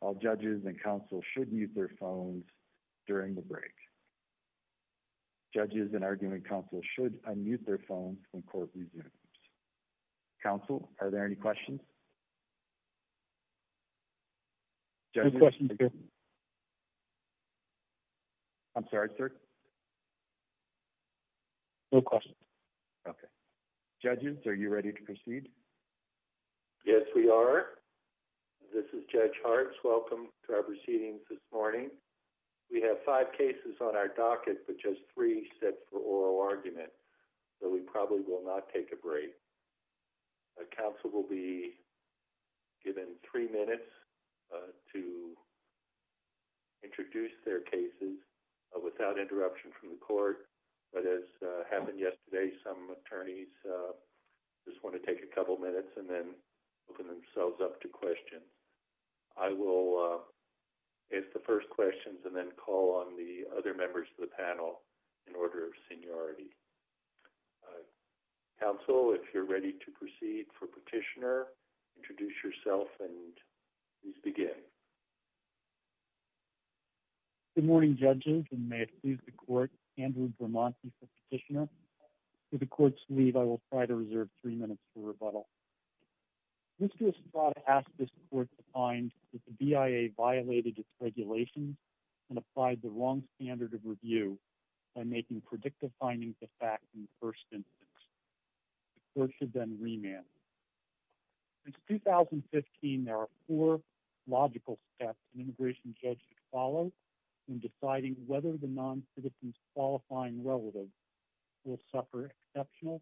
All judges and counsel should mute their phones during the break. Judges and argument counsel should unmute their phones when court resumes. Counsel, are there any questions? No questions, sir. I'm sorry, sir? No questions. Okay. Judges, are you ready to proceed? Yes, we are. This is Judge Hartz. Welcome to our proceedings this morning. We have five cases on our docket, but just three set for oral argument. So we probably will not take a break. Counsel will be given three minutes to introduce their cases without interruption from the court. But as happened yesterday, some attorneys just want to take a couple minutes and then open themselves up to questions. I will ask the first questions and then call on the other members of the panel in order of seniority. Counsel, if you're ready to proceed for petitioner, introduce yourself and please begin. Good morning, judges, and may it please the court, Andrew Bermonti for petitioner. With the court's leave, I will try to reserve three minutes for rebuttal. Mr. Estrada asked this court to find that the BIA violated its regulations and applied the wrong standard of review by making predictive findings of facts in the first instance. The court should then remand. Since 2015, there are four logical steps an immigration judge should follow in deciding whether the non-citizen's qualifying relative will suffer exceptional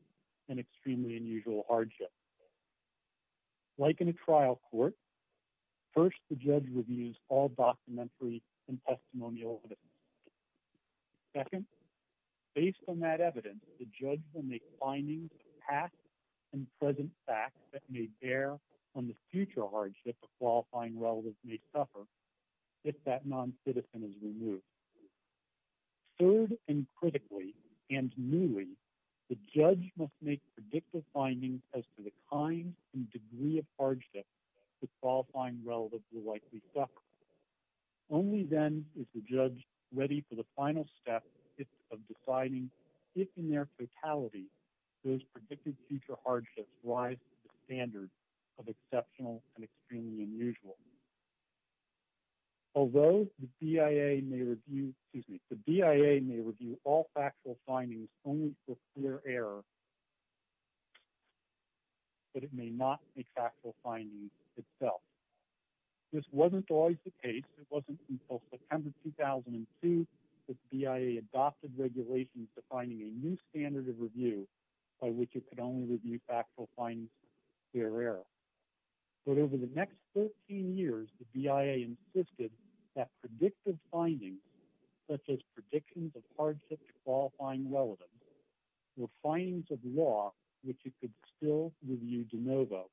and extremely unusual hardship. Like in a trial court, first, the judge reviews all documentary and testimonial evidence. Second, based on that evidence, the judge will make findings of past and present facts that may bear on the future hardship the qualifying relative may suffer if that non-citizen is removed. Third and critically and newly, the judge must make predictive findings as to the kind and degree of hardship the qualifying relative will likely suffer. Only then is the judge ready for the final step of deciding if, in their totality, those predicted future hardships rise to the standard of exceptional and extremely unusual. Although the BIA may review all factual findings only for clear error, but it may not make factual findings itself. This wasn't always the case. It wasn't until September 2002 that the BIA adopted regulations defining a new standard of review by which it could only review factual findings of clear error. But over the next 13 years, the BIA insisted that predictive findings, such as predictions of hardship to qualifying relative, were findings of law which it could still review de novo.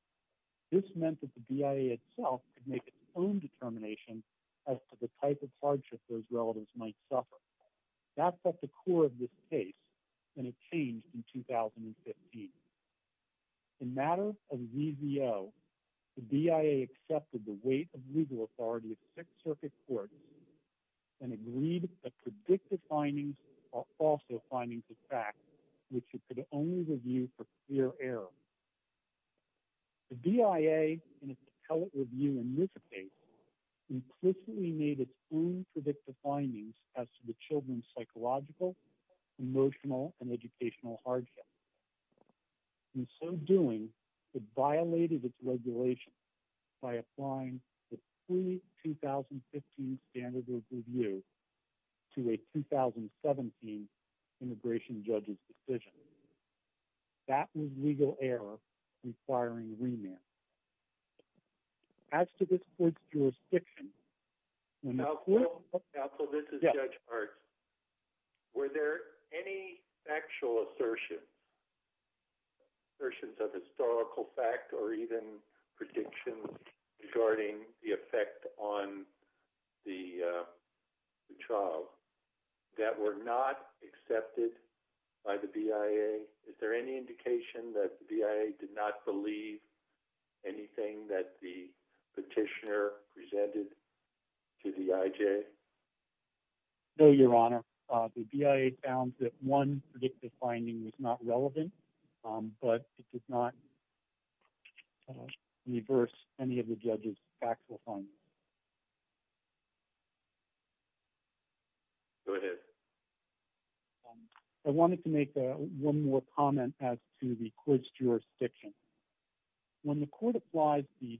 This meant that the BIA itself could make its own determination as to the type of hardship those relatives might suffer. That's at the core of this case, and it changed in 2015. In matter of ZVO, the BIA accepted the weight of legal authority of Sixth Circuit Court and agreed that predictive findings are also findings of fact which it could only review for clear error. The BIA, in its appellate review in this case, implicitly made its own predictive findings as to the children's psychological, emotional, and educational hardship. In so doing, it violated its regulation by applying the pre-2015 standard of review to a 2017 immigration judge's decision. That was legal error requiring remand. As to this court's jurisdiction, when the court... Counsel, this is Judge Hart. Were there any factual assertions, assertions of historical fact or even predictions regarding the effect on the child that were not accepted by the BIA? Is there any indication that the BIA did not believe anything that the petitioner presented to the IJ? No, Your Honor. The BIA found that one predictive finding was not relevant, but it did not reverse any of the judge's factual findings. Go ahead. I wanted to make one more comment as to the court's jurisdiction. When the court applies the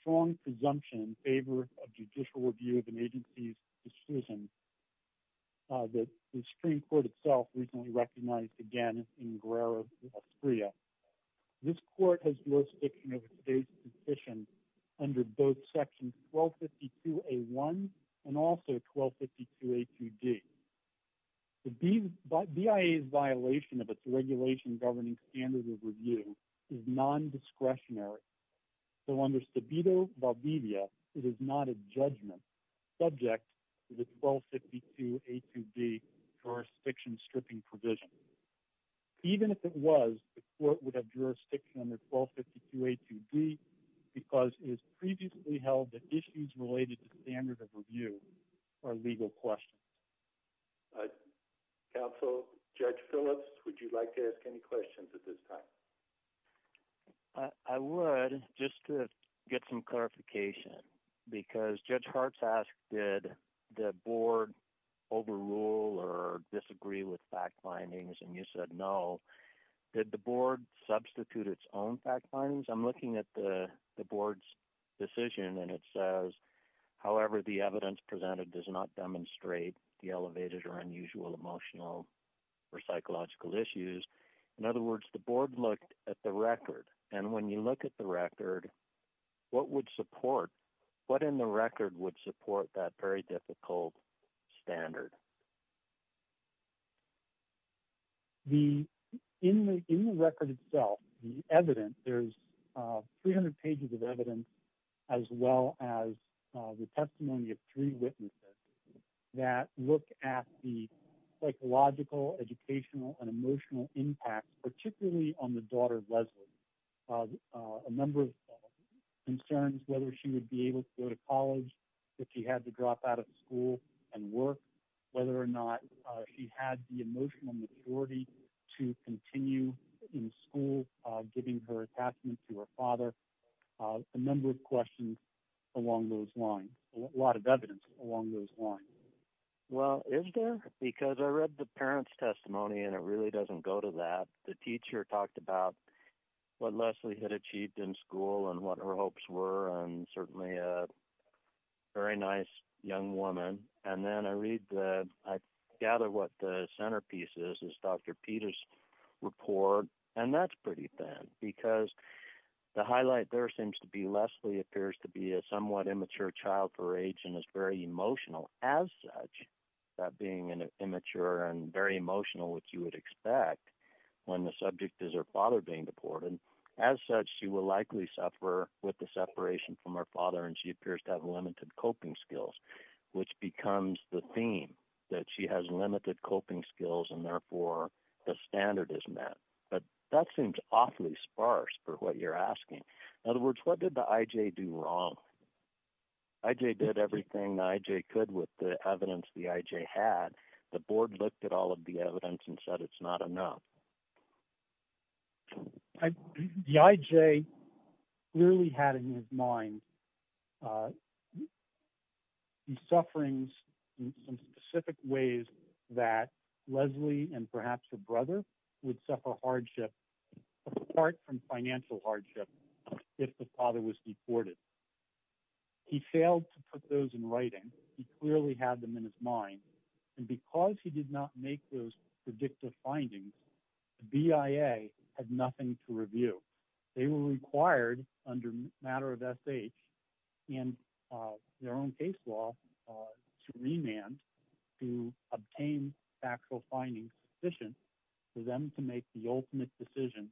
strong presumption in favor of judicial review of an agency's decision that the Supreme Court itself recently recognized again in Guerrero v. Alfreya, this court has jurisdiction over today's petition under both Section 1252A1 and also 1252A2D. The BIA's violation of its regulation governing standard of review is nondiscretionary, so under Stabito v. Alfreya, it is not a judgment subject to the 1252A2D jurisdiction stripping provision. Even if it was, the court would have jurisdiction under 1252A2D because it is previously held that issues related to standard of review are legal questions. Counsel, Judge Phillips, would you like to ask any questions at this time? I would, just to get some clarification. Because Judge Hart's asked did the board overrule or disagree with fact findings, and you said no. Did the board substitute its own fact findings? I'm looking at the board's decision, and it says, however, the evidence presented does not demonstrate the elevated or unusual emotional or psychological issues. In other words, the board looked at the record, and when you look at the record, what would support, what in the record would support that very difficult standard? The, in the record itself, the evidence, there's 300 pages of evidence, as well as the testimony of three witnesses that look at the psychological, educational, and emotional impact, particularly on the daughter, Leslie. A number of concerns, whether she would be able to go to college, if she had to drop out of school and work, whether or not she had the emotional maturity to continue in school, giving her attachment to her father. A number of questions along those lines, a lot of evidence along those lines. Well, is there? Because I read the parents' testimony, and it really doesn't go to that. The teacher talked about what Leslie had achieved in school and what her hopes were, and certainly a very nice young woman. And then I read the, I gather what the centerpiece is, is Dr. Peter's report, and that's pretty thin, because the highlight there seems to be Leslie appears to be a somewhat immature child for her age and is very emotional. As such, that being immature and very emotional, which you would expect when the subject is her father being deported, as such, she will likely suffer with the separation from her father, and she appears to have limited coping skills, which becomes the theme, that she has limited coping skills, and therefore the standard is met. But that seems awfully sparse for what you're asking. In other words, what did the IJ do wrong? The IJ did everything the IJ could with the evidence the IJ had. The board looked at all of the evidence and said it's not enough. The IJ clearly had in his mind the sufferings in some specific ways that Leslie and perhaps her brother would suffer hardship, apart from financial hardship, if the father was deported. He failed to put those in writing. He clearly had them in his mind, and because he did not make those predictive findings, the BIA had nothing to review. They were required under a matter of SH and their own case law to remand, to obtain factual findings sufficient for them to make the ultimate decision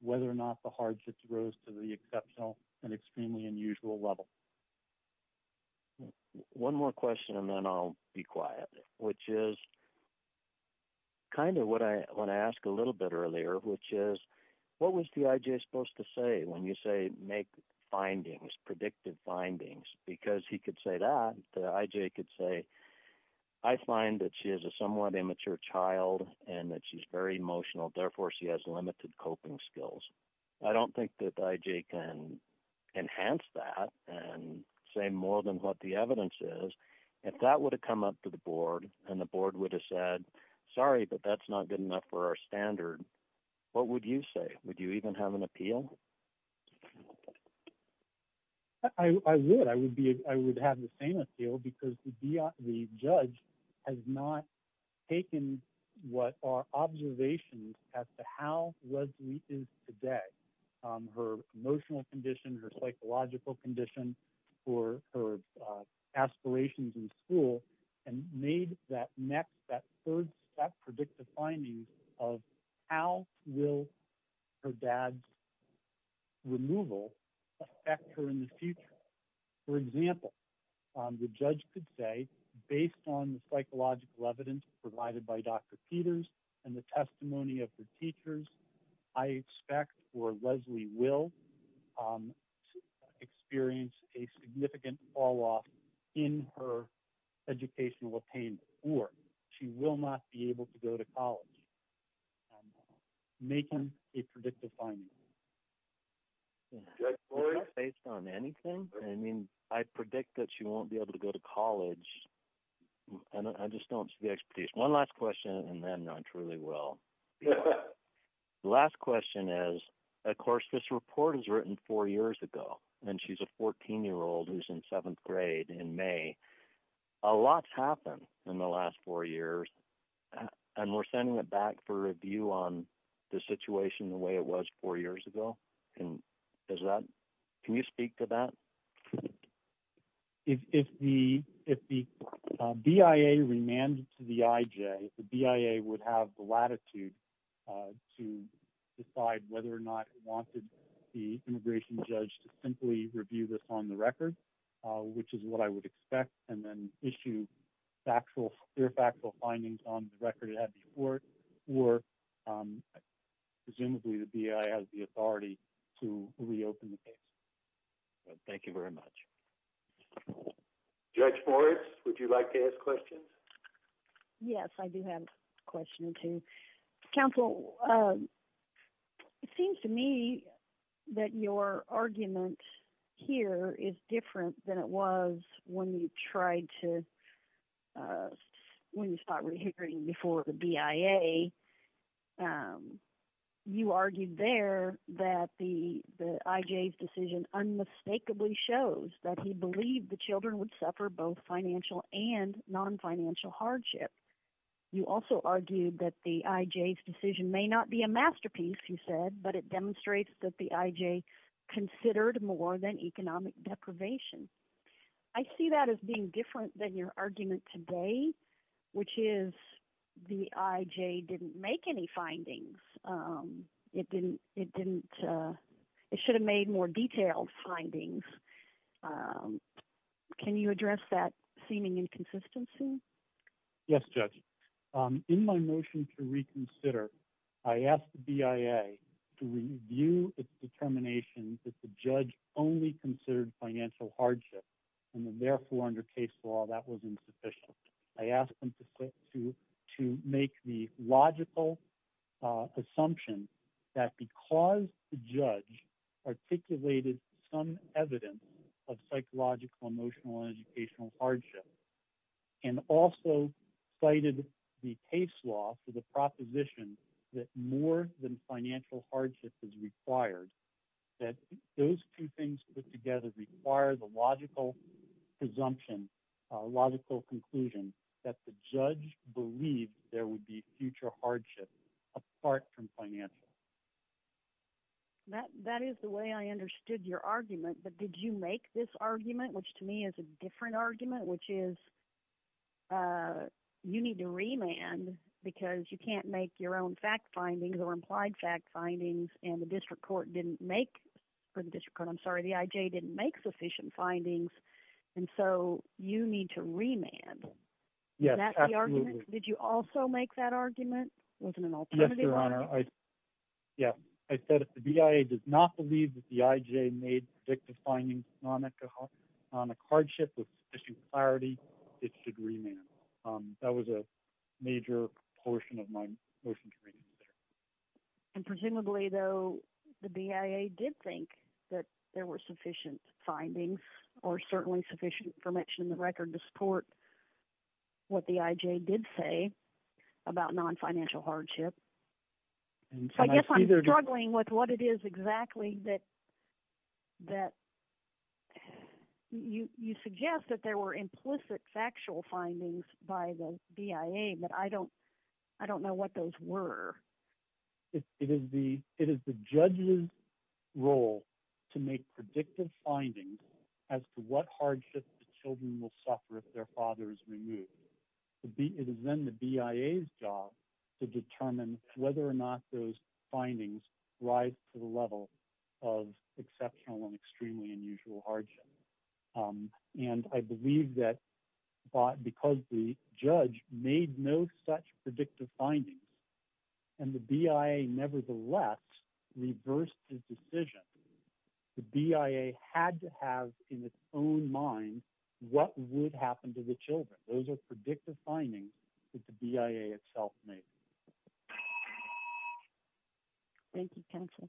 whether or not the hardships rose to the exceptional and extremely unusual level. One more question, and then I'll be quiet, which is kind of what I want to ask a little bit earlier, which is, what was the IJ supposed to say when you say make findings, predictive findings? Because he could say that, the IJ could say, I find that she is a somewhat immature child and that she's very emotional, therefore she has limited coping skills. I don't think that the IJ can enhance that and say more than what the evidence is. If that would have come up to the board and the board would have said, sorry, but that's not good enough for our standard, what would you say? Would you even have an appeal? I would, I would be, I would have the same appeal because the judge has not taken what are observations as to how Leslie is today, her emotional condition, her psychological condition, or her aspirations in school, and made that next, that third step, predictive findings of how will her dad's removal affect her in the future? For example, the judge could say, based on the psychological evidence provided by Dr. Peters and the testimony of the teachers, I expect or Leslie will experience a significant fall off in her educational attainment, or she will not be able to go to college, making a predictive finding. Judge Floyd? Based on anything? I mean, I predict that she won't be able to go to college. And I just don't see the expertise. One last question, and then I truly will. The last question is, of course, this report is written four years ago, and she's a 14 year old who's in seventh grade in May. A lot's happened in the last four years, and we're sending it back for review on the record, which is what I would expect, and then issue factual, clear factual findings on the record it had before. Presumably the BIA has the authority to reopen the case. Thank you very much. Judge Floyd, would you like to ask questions? Yes, I do have a question or two. Counsel, it seems to me that your argument here is different than it was when you tried to, when you started hearing before the BIA. You argued there that the IJ's decision unmistakably shows that he believed the children would suffer both financial and non-financial hardship. You also argued that the IJ's decision may not be a masterpiece, you said, but it demonstrates that the IJ considered more than economic deprivation. I see that as being different than your argument today, which is the IJ didn't make any findings. It didn't, it didn't, it should have made more detailed findings. Can you address that seeming inconsistency? Yes, Judge. In my motion to reconsider, I asked the BIA to review its determination that the judge only considered financial hardship, and therefore under case law, that was insufficient. I asked them to make the logical assumption that because the judge articulated some evidence of psychological, emotional, and educational hardship, and also cited the case law for proposition that more than financial hardship is required, that those two things put together require the logical presumption, logical conclusion that the judge believed there would be future hardship apart from financial. That is the way I understood your argument, but did you make this argument, which to me is a different argument, which is you need to remand because you can't make your own fact findings or implied fact findings, and the district court didn't make, for the district court, I'm sorry, the IJ didn't make sufficient findings, and so you need to remand. Yes, absolutely. Is that the argument? Did you also make that argument? Wasn't an alternative argument? Yes, Your Honor. Yes, I said if the BIA does not believe that the IJ made predictive findings on economic hardship with sufficient clarity, it should remand. That was a major portion of my motion to remand. And presumably, though, the BIA did think that there were sufficient findings or certainly sufficient information in the record to support what the IJ did say about non-financial hardship. I guess I'm struggling with what it is exactly that you suggest that there were implicit factual findings by the BIA, but I don't know what those were. It is the judge's role to make predictive findings as to what hardship the children will suffer if their father is removed. It is then the BIA's job to determine whether or not those findings rise to the level of exceptional and extremely unusual hardship. And I believe that because the judge made no such predictive findings and the BIA, nevertheless, reversed his decision, the BIA had to have in its own mind what would happen to the children. Those are predictive findings that the BIA itself made. Thank you, counsel.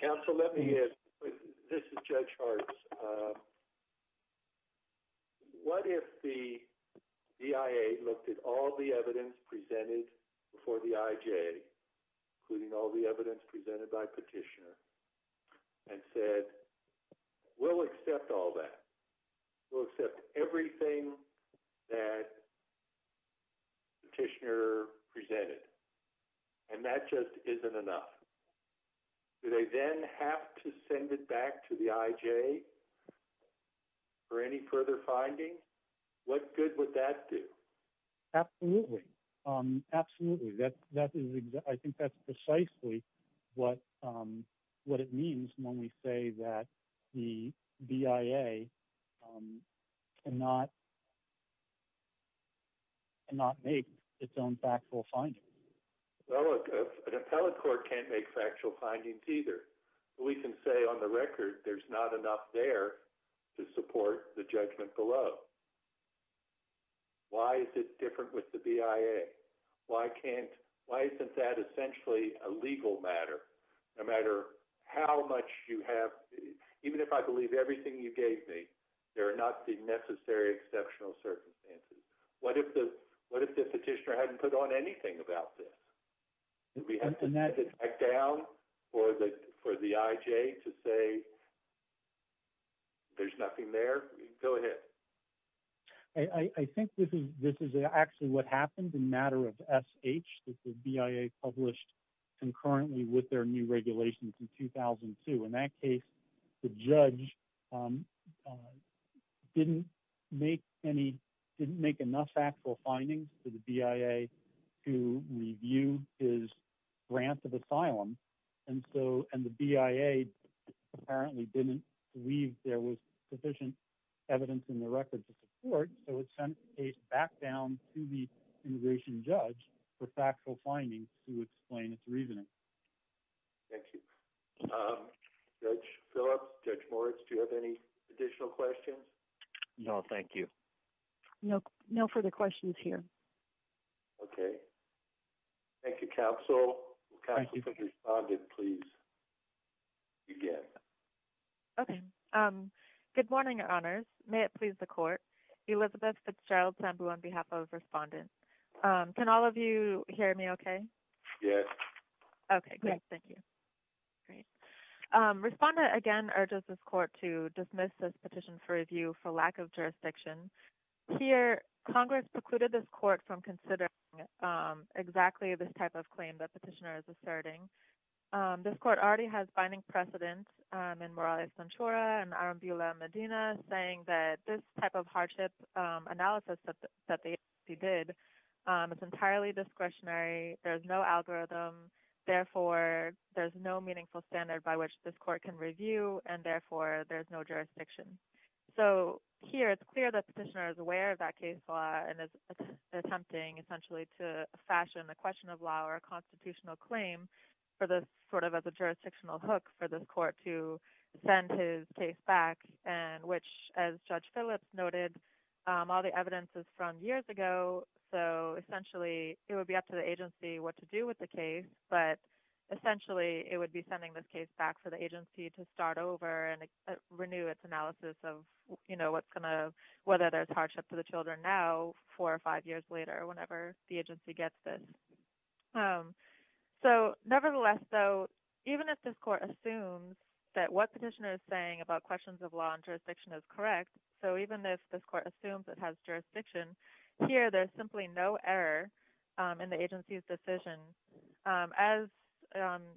Counsel, let me ask, this is Judge Hartz. What if the BIA looked at all the evidence presented before the IJ, including all the evidence presented by petitioner, and said, we'll accept all that. We'll accept everything that the petitioner presented. And that just isn't enough. Do they then have to send it back to the IJ for any further findings? What good would that do? Absolutely. Absolutely. I think that's precisely what it means when we say that the BIA cannot make its own factual findings. Well, look, an appellate court can't make factual findings either. We can say on the record there's not enough there to support the judgment below. Why is it different with the BIA? Why can't, why isn't that essentially a legal matter? No matter how much you have, even if I believe everything you gave me, there are not the necessary exceptional circumstances. What if the petitioner hadn't put on anything about this? Would we have to send it back down for the IJ to say there's nothing there? Go ahead. I think this is actually what happened in matter of SH. This is BIA published concurrently with their new regulations in 2002. In that case, the judge didn't make any, didn't make enough factual findings to the BIA to review his grant of asylum. And so, and the BIA apparently didn't believe there was sufficient evidence in the record to support. So it sent a back down to the immigration judge for factual findings to explain its reasoning. Thank you. Judge Phillips, Judge Moritz, do you have any additional questions? No, thank you. No further questions here. Okay. Thank you, counsel. Counsel, could the respondent please begin? Okay. Good morning, your honors. May it please the court. Elizabeth Fitzgerald Sambu on behalf of respondent. Can all of you hear me okay? Yes. Okay, great. Thank you. Great. Respondent again urges this court to dismiss this petition for review for lack of jurisdiction. Here, Congress precluded this court from considering exactly this type of claim that petitioner is asserting. This court already has binding precedence in Morales-Sanchora and Arambula-Medina saying that this type of hardship analysis that the agency did, it's entirely discretionary. There's no algorithm. Therefore, there's no meaningful standard by which this court can review. And therefore, there's no jurisdiction. So here, it's clear that petitioner is aware of that case law and is attempting essentially to fashion a question of law or a constitutional claim for this sort of as a jurisdictional hook for this court to send his case back and which, as Judge Phillips noted, all the evidence is from years ago. So essentially, it would be up to the agency what to do with the case, but essentially, it would be sending this case back for the agency to start over and renew its analysis of, you know, what's going to, whether there's hardship to the children now, four or five years later, whenever the agency gets this. So nevertheless, though, even if this court assumes that what petitioner is saying about questions of law and jurisdiction is correct, so even if this court assumes it has jurisdiction, here, there's simply no error in the agency's decision. As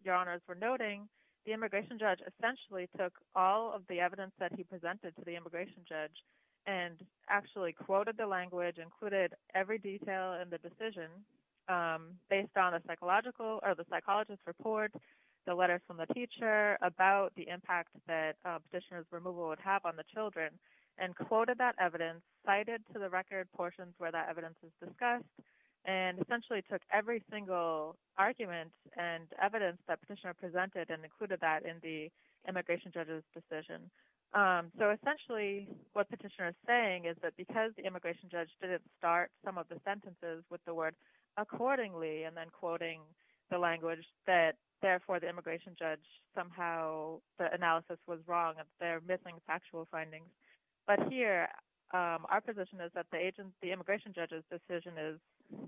Your Honors were noting, the immigration judge essentially took all of the evidence that he presented to the immigration judge and actually quoted the language, included every detail in the decision based on a psychological, or the psychologist's report, the letter from the teacher about the impact that petitioner's removal would have on the children, and quoted that evidence, cited to the record portions where that evidence is discussed, and essentially took every single argument and evidence that petitioner presented and included that in the immigration judge's decision. So essentially, what petitioner is saying is that because the immigration judge didn't start some of the sentences with the word accordingly, and then quoting the language, that therefore the immigration judge somehow, the analysis was wrong, that they're missing factual findings. But here, our position is that the immigration judge's decision is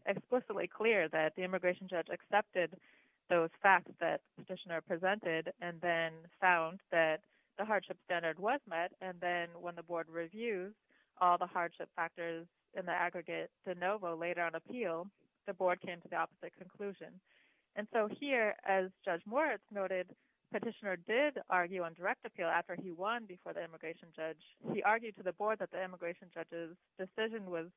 explicitly clear that the immigration judge accepted those facts that petitioner presented and then found that the hardship standard was met, and then when the board reviews all the hardship factors in the aggregate de novo later on appeal, the board came to the opposite conclusion. And so here, as Judge Moritz noted, petitioner did argue on direct appeal after he won before the immigration judge. He argued to the board that the immigration judge's decision was,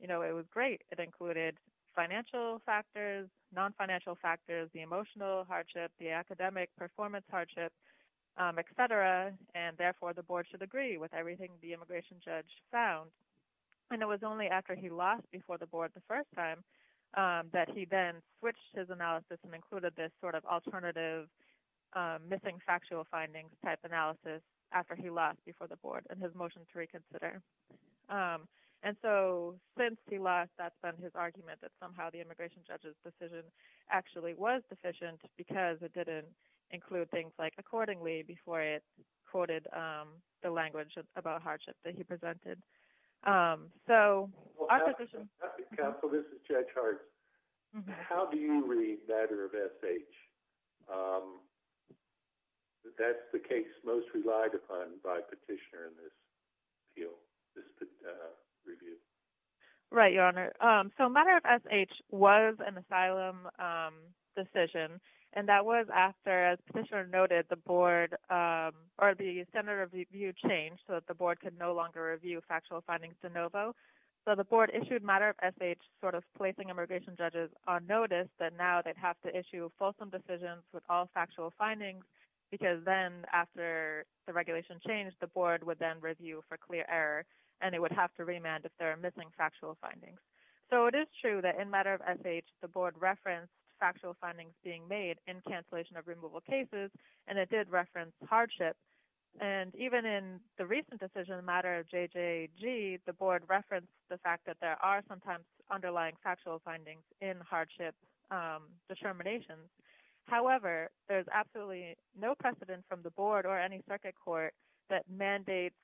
you know, it was great. It included financial factors, non-financial factors, the emotional hardship, the academic performance hardship, et cetera, and therefore the board should agree with everything the immigration judge found. And it was only after he lost before the board the first time that he then switched his analysis and included this sort of alternative missing factual findings type analysis after he lost before the board and his motion to reconsider. And so since he lost, that's been his argument that somehow the immigration judge's decision actually was deficient because it didn't include things like accordingly before it quoted the language about hardship that he presented. So our position... Judge Hart, this is Judge Hart. How do you read letter of FH? That's the case most relied upon by petitioner in this field. This review. Right, Your Honor. So matter of FH was an asylum decision, and that was after, as petitioner noted, the board or the standard of review changed so that the board could no longer review factual findings de novo. So the board issued matter of FH sort of placing immigration judges on notice that now they'd have to issue fulsome decisions with all factual findings because then after the regulation changed, the board would then review for clear error and it would have to remand if there are missing factual findings. So it is true that in matter of FH, the board referenced factual findings being made in cancellation of removal cases, and it did reference hardship. And even in the recent decision, matter of JJG, the board referenced the fact that there are sometimes underlying factual findings in hardship determinations. However, there's absolutely no precedent from the board or any circuit court that mandates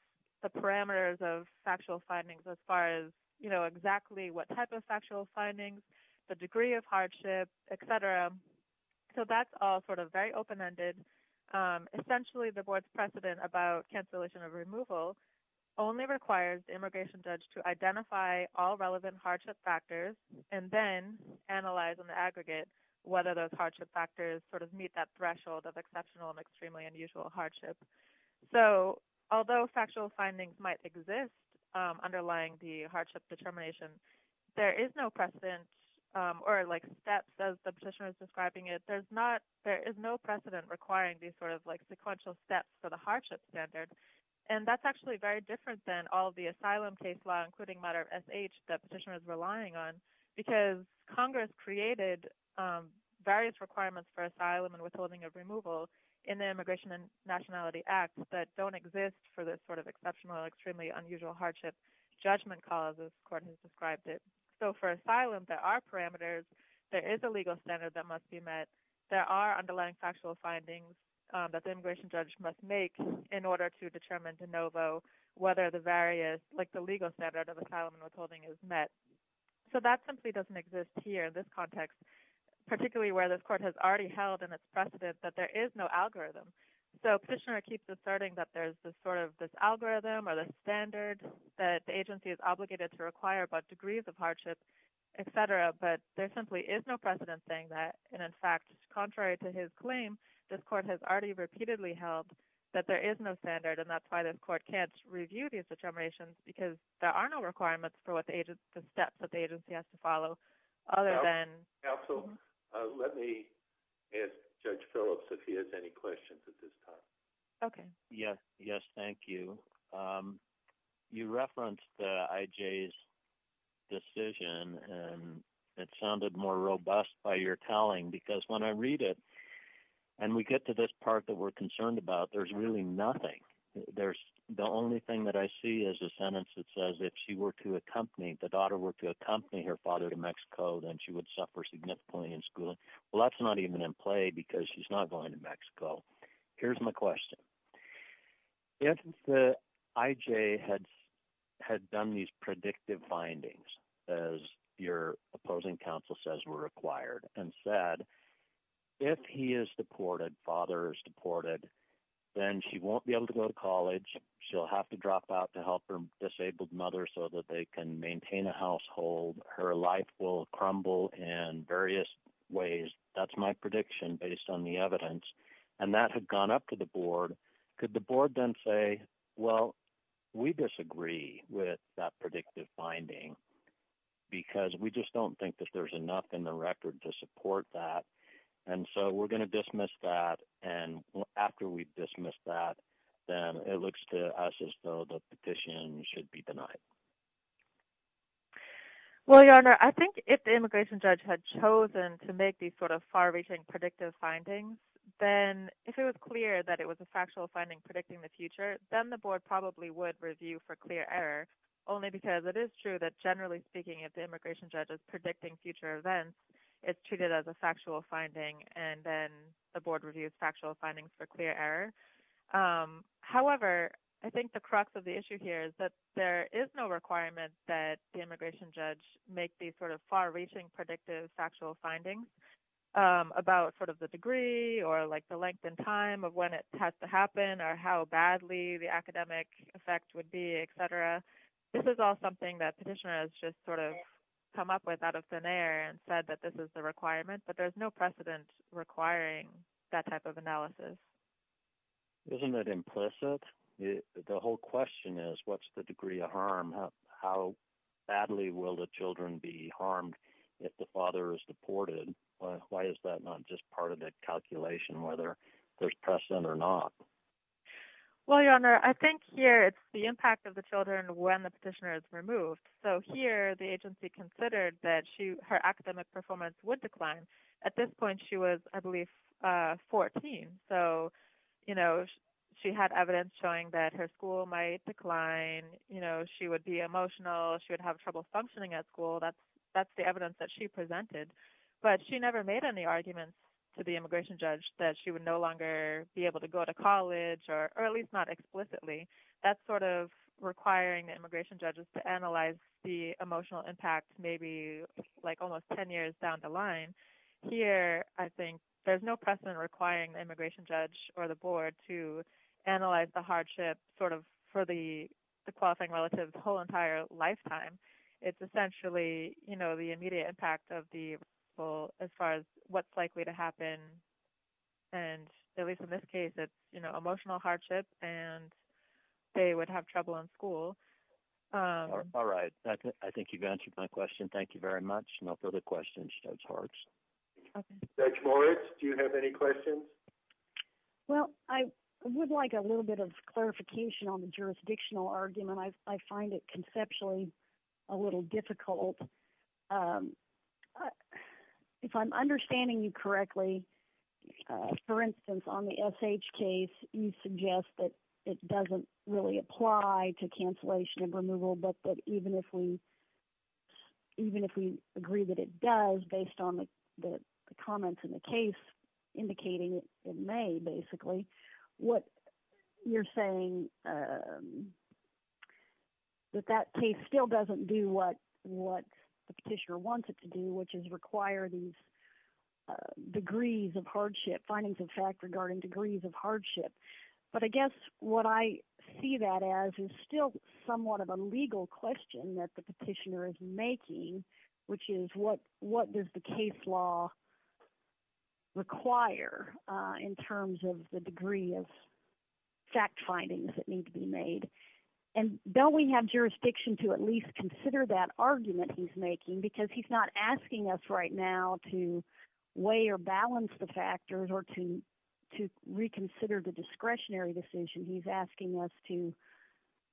the parameters of factual findings as far as, you know, exactly what type of factual findings, the degree of hardship, et cetera. So that's all sort of very open-ended. Essentially, the board's precedent about cancellation of removal only requires the immigration judge to identify all relevant hardship factors and then analyze on the factors sort of meet that threshold of exceptional and extremely unusual hardship. So although factual findings might exist underlying the hardship determination, there is no precedent or like steps, as the petitioner is describing it, there is no precedent requiring these sort of like sequential steps for the hardship standard. And that's actually very different than all the asylum case law, including matter of SH that petitioner is relying on, because Congress created various requirements for asylum and withholding of removal in the Immigration and Nationality Act that don't exist for this sort of exceptional, extremely unusual hardship judgment cause, as Courtney has described it. So for asylum, there are parameters. There is a legal standard that must be met. There are underlying factual findings that the immigration judge must make in order to So that simply doesn't exist here in this context, particularly where this court has already held in its precedent that there is no algorithm. So petitioner keeps asserting that there's this sort of this algorithm or this standard that the agency is obligated to require about degrees of hardship, et cetera. But there simply is no precedent saying that. And in fact, contrary to his claim, this court has already repeatedly held that there is no standard. And that's why this court can't review these determinations, because there are no requirements for what the agency, the steps that the agency has to follow, other than Counsel, let me ask Judge Phillips if he has any questions at this time. Okay. Yes. Yes. Thank you. You referenced I.J.'s decision, and it sounded more robust by your telling, because when I read it, and we get to this part that we're concerned about, there's really nothing. There's the only thing that I see is a sentence that says if she were to accompany, if the daughter were to accompany her father to Mexico, then she would suffer significantly in schooling. Well, that's not even in play, because she's not going to Mexico. Here's my question. If the I.J. had done these predictive findings, as your opposing counsel says were required, and said, if he is deported, father is deported, then she won't be able to go to college. She'll have to drop out to help her disabled mother so that they can maintain a household. Her life will crumble in various ways. That's my prediction based on the evidence. And that had gone up to the board. Could the board then say, well, we disagree with that predictive finding, because we just don't think that there's enough in the record to support that, and so we're going to dismiss that. And after we dismiss that, then it looks to us as though the petition should be denied. Well, Your Honor, I think if the immigration judge had chosen to make these sort of far reaching predictive findings, then if it was clear that it was a factual finding predicting the future, then the board probably would review for clear error, only because it is true that generally speaking, if the immigration judge is predicting future events, it's treated as a factual finding, and then the board reviews factual findings for clear error. However, I think the crux of the issue here is that there is no requirement that the immigration judge make these sort of far reaching predictive factual findings about sort of the degree or like the length and time of when it has to happen or how badly the academic effect would be, et cetera. This is all something that petitioner has just sort of come up with out of thin air and said that this is the requirement, but there's no precedent requiring that type of analysis. Isn't that implicit? The whole question is, what's the degree of harm? How badly will the children be harmed if the father is deported? Why is that not just part of the calculation, whether there's precedent or not? Well, Your Honor, I think here it's the impact of the children when the petitioner is removed. So here the agency considered that her academic performance would decline. At this point, she was, I believe, 14. So she had evidence showing that her school might decline, she would be emotional, she would have trouble functioning at school. That's the evidence that she presented. But she never made any arguments to the immigration judge that she would no longer be able to go to college, or at least not explicitly. That's sort of requiring the immigration judges to analyze the emotional impact maybe like almost 10 years down the line. Here, I think there's no precedent requiring the immigration judge or the board to analyze the hardship sort of for the qualifying relative the whole entire lifetime. It's essentially the immediate impact of the rule as far as what's likely to happen. And at least in this case, emotional hardship and they would have trouble in school. All right. I think you've answered my question. Thank you very much. No further questions, Judge Horwitz. Judge Moritz, do you have any questions? Well, I would like a little bit of clarification on the jurisdictional argument. I find it conceptually a little difficult. But if I'm understanding you correctly, for instance, on the SH case, you suggest that it doesn't really apply to cancellation of removal. But even if we agree that it does based on the comments in the case, indicating it may basically, what you're saying that that case still doesn't do what the petitioner wants it to do, which is require these degrees of hardship, findings of fact regarding degrees of hardship. But I guess what I see that as is still somewhat of a legal question that the petitioner is making, which is what does the case law require in terms of the degree of fact findings that need to be made? And don't we have jurisdiction to at least consider that argument he's making? Because he's not asking us right now to weigh or balance the factors or to reconsider the discretionary decision. He's asking us to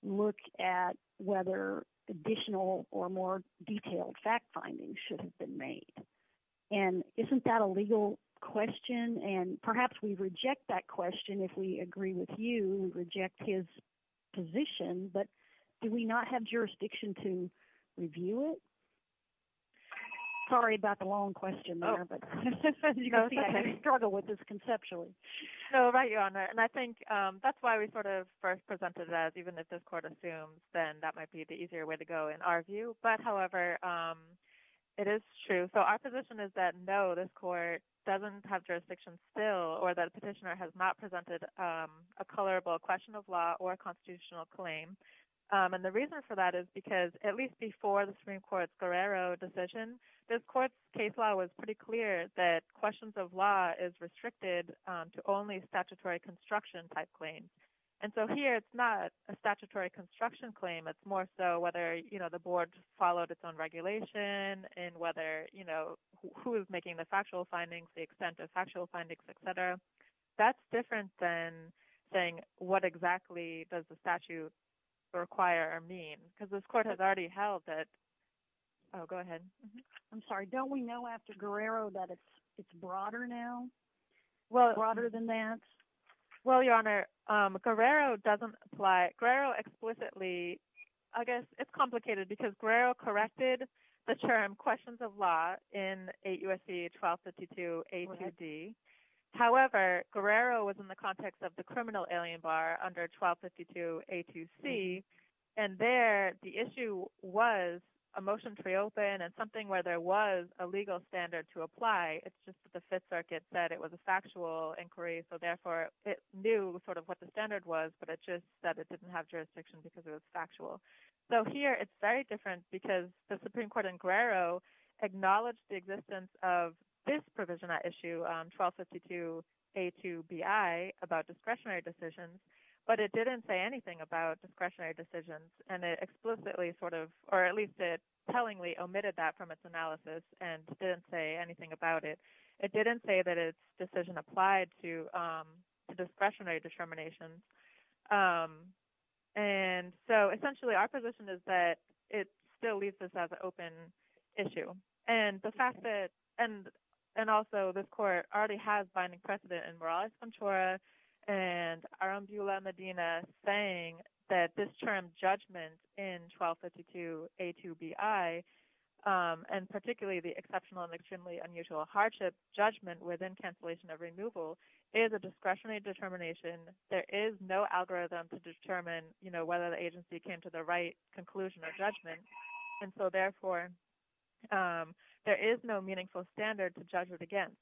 look at whether additional or more detailed fact findings should have been made. And isn't that a legal question? And perhaps we reject that question if we agree with you, reject his position. But do we not have jurisdiction to review it? Sorry about the long question there, but you can see I struggle with this conceptually. So right, Your Honor, and I think that's why we sort of first presented it as even if this court assumes, then that might be the easier way to go in our view. But however, it is true. So our position is that no, this court doesn't have jurisdiction still or that a petitioner has not presented a colorable question of law or a constitutional claim. And the reason for that is because at least before the Supreme Court's Guerrero decision, this court's case law was pretty clear that questions of law is restricted to only statutory construction type claims. And so here, it's not a statutory construction claim. It's more so whether the board followed its own regulation and whether who is making the factual findings, the extent of factual findings, et cetera. That's different than saying what exactly does the statute require or mean? Because this court has already held that. Oh, go ahead. I'm sorry. Don't we know after Guerrero that it's broader now, broader than that? Well, Your Honor, Guerrero doesn't apply. Guerrero explicitly, I guess it's complicated because Guerrero corrected the term questions of law in 8 U.S.C. 1252 A to D. However, Guerrero was in the context of the criminal alien bar under 1252 A to C. And there, the issue was a motion to reopen and something where there was a legal standard to apply. It's just that the Fifth Circuit said it was a factual inquiry. So therefore, it knew sort of what the standard was, but it just said it didn't have jurisdiction because it was factual. So here, it's very different because the Supreme Court in Guerrero acknowledged the existence of this provision at issue 1252 A to B.I. about discretionary decisions. But it didn't say anything about discretionary decisions. And it explicitly sort of, or at least it tellingly omitted that from its analysis and didn't say anything about it. It didn't say that its decision applied to discretionary determinations. And so essentially, our position is that it still leaves us as an open issue. And the fact that, and also this court already has binding precedent in Morales-Cantora and Arambula-Medina saying that this term judgment in 1252 A to B.I., and particularly the exceptional and extremely unusual hardship judgment within cancellation of removal is a discretionary determination. There is no algorithm to determine whether the agency came to the right conclusion or judgment. And so therefore, there is no meaningful standard to judge it against.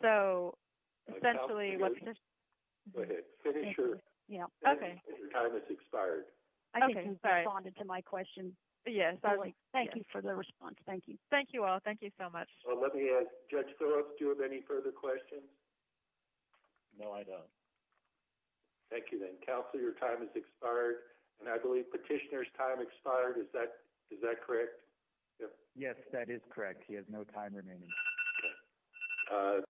So essentially, what's this? Go ahead. Finish your, your time has expired. I think he responded to my question. Yes. Thank you for the response. Thank you. Thank you all. Thank you so much. Well, let me ask Judge Thorops, do you have any further questions? No, I don't. Thank you then. Counselor, your time has expired. And I believe petitioner's time expired. Is that, is that correct? Yes, that is correct. He has no time remaining. Okay. All right.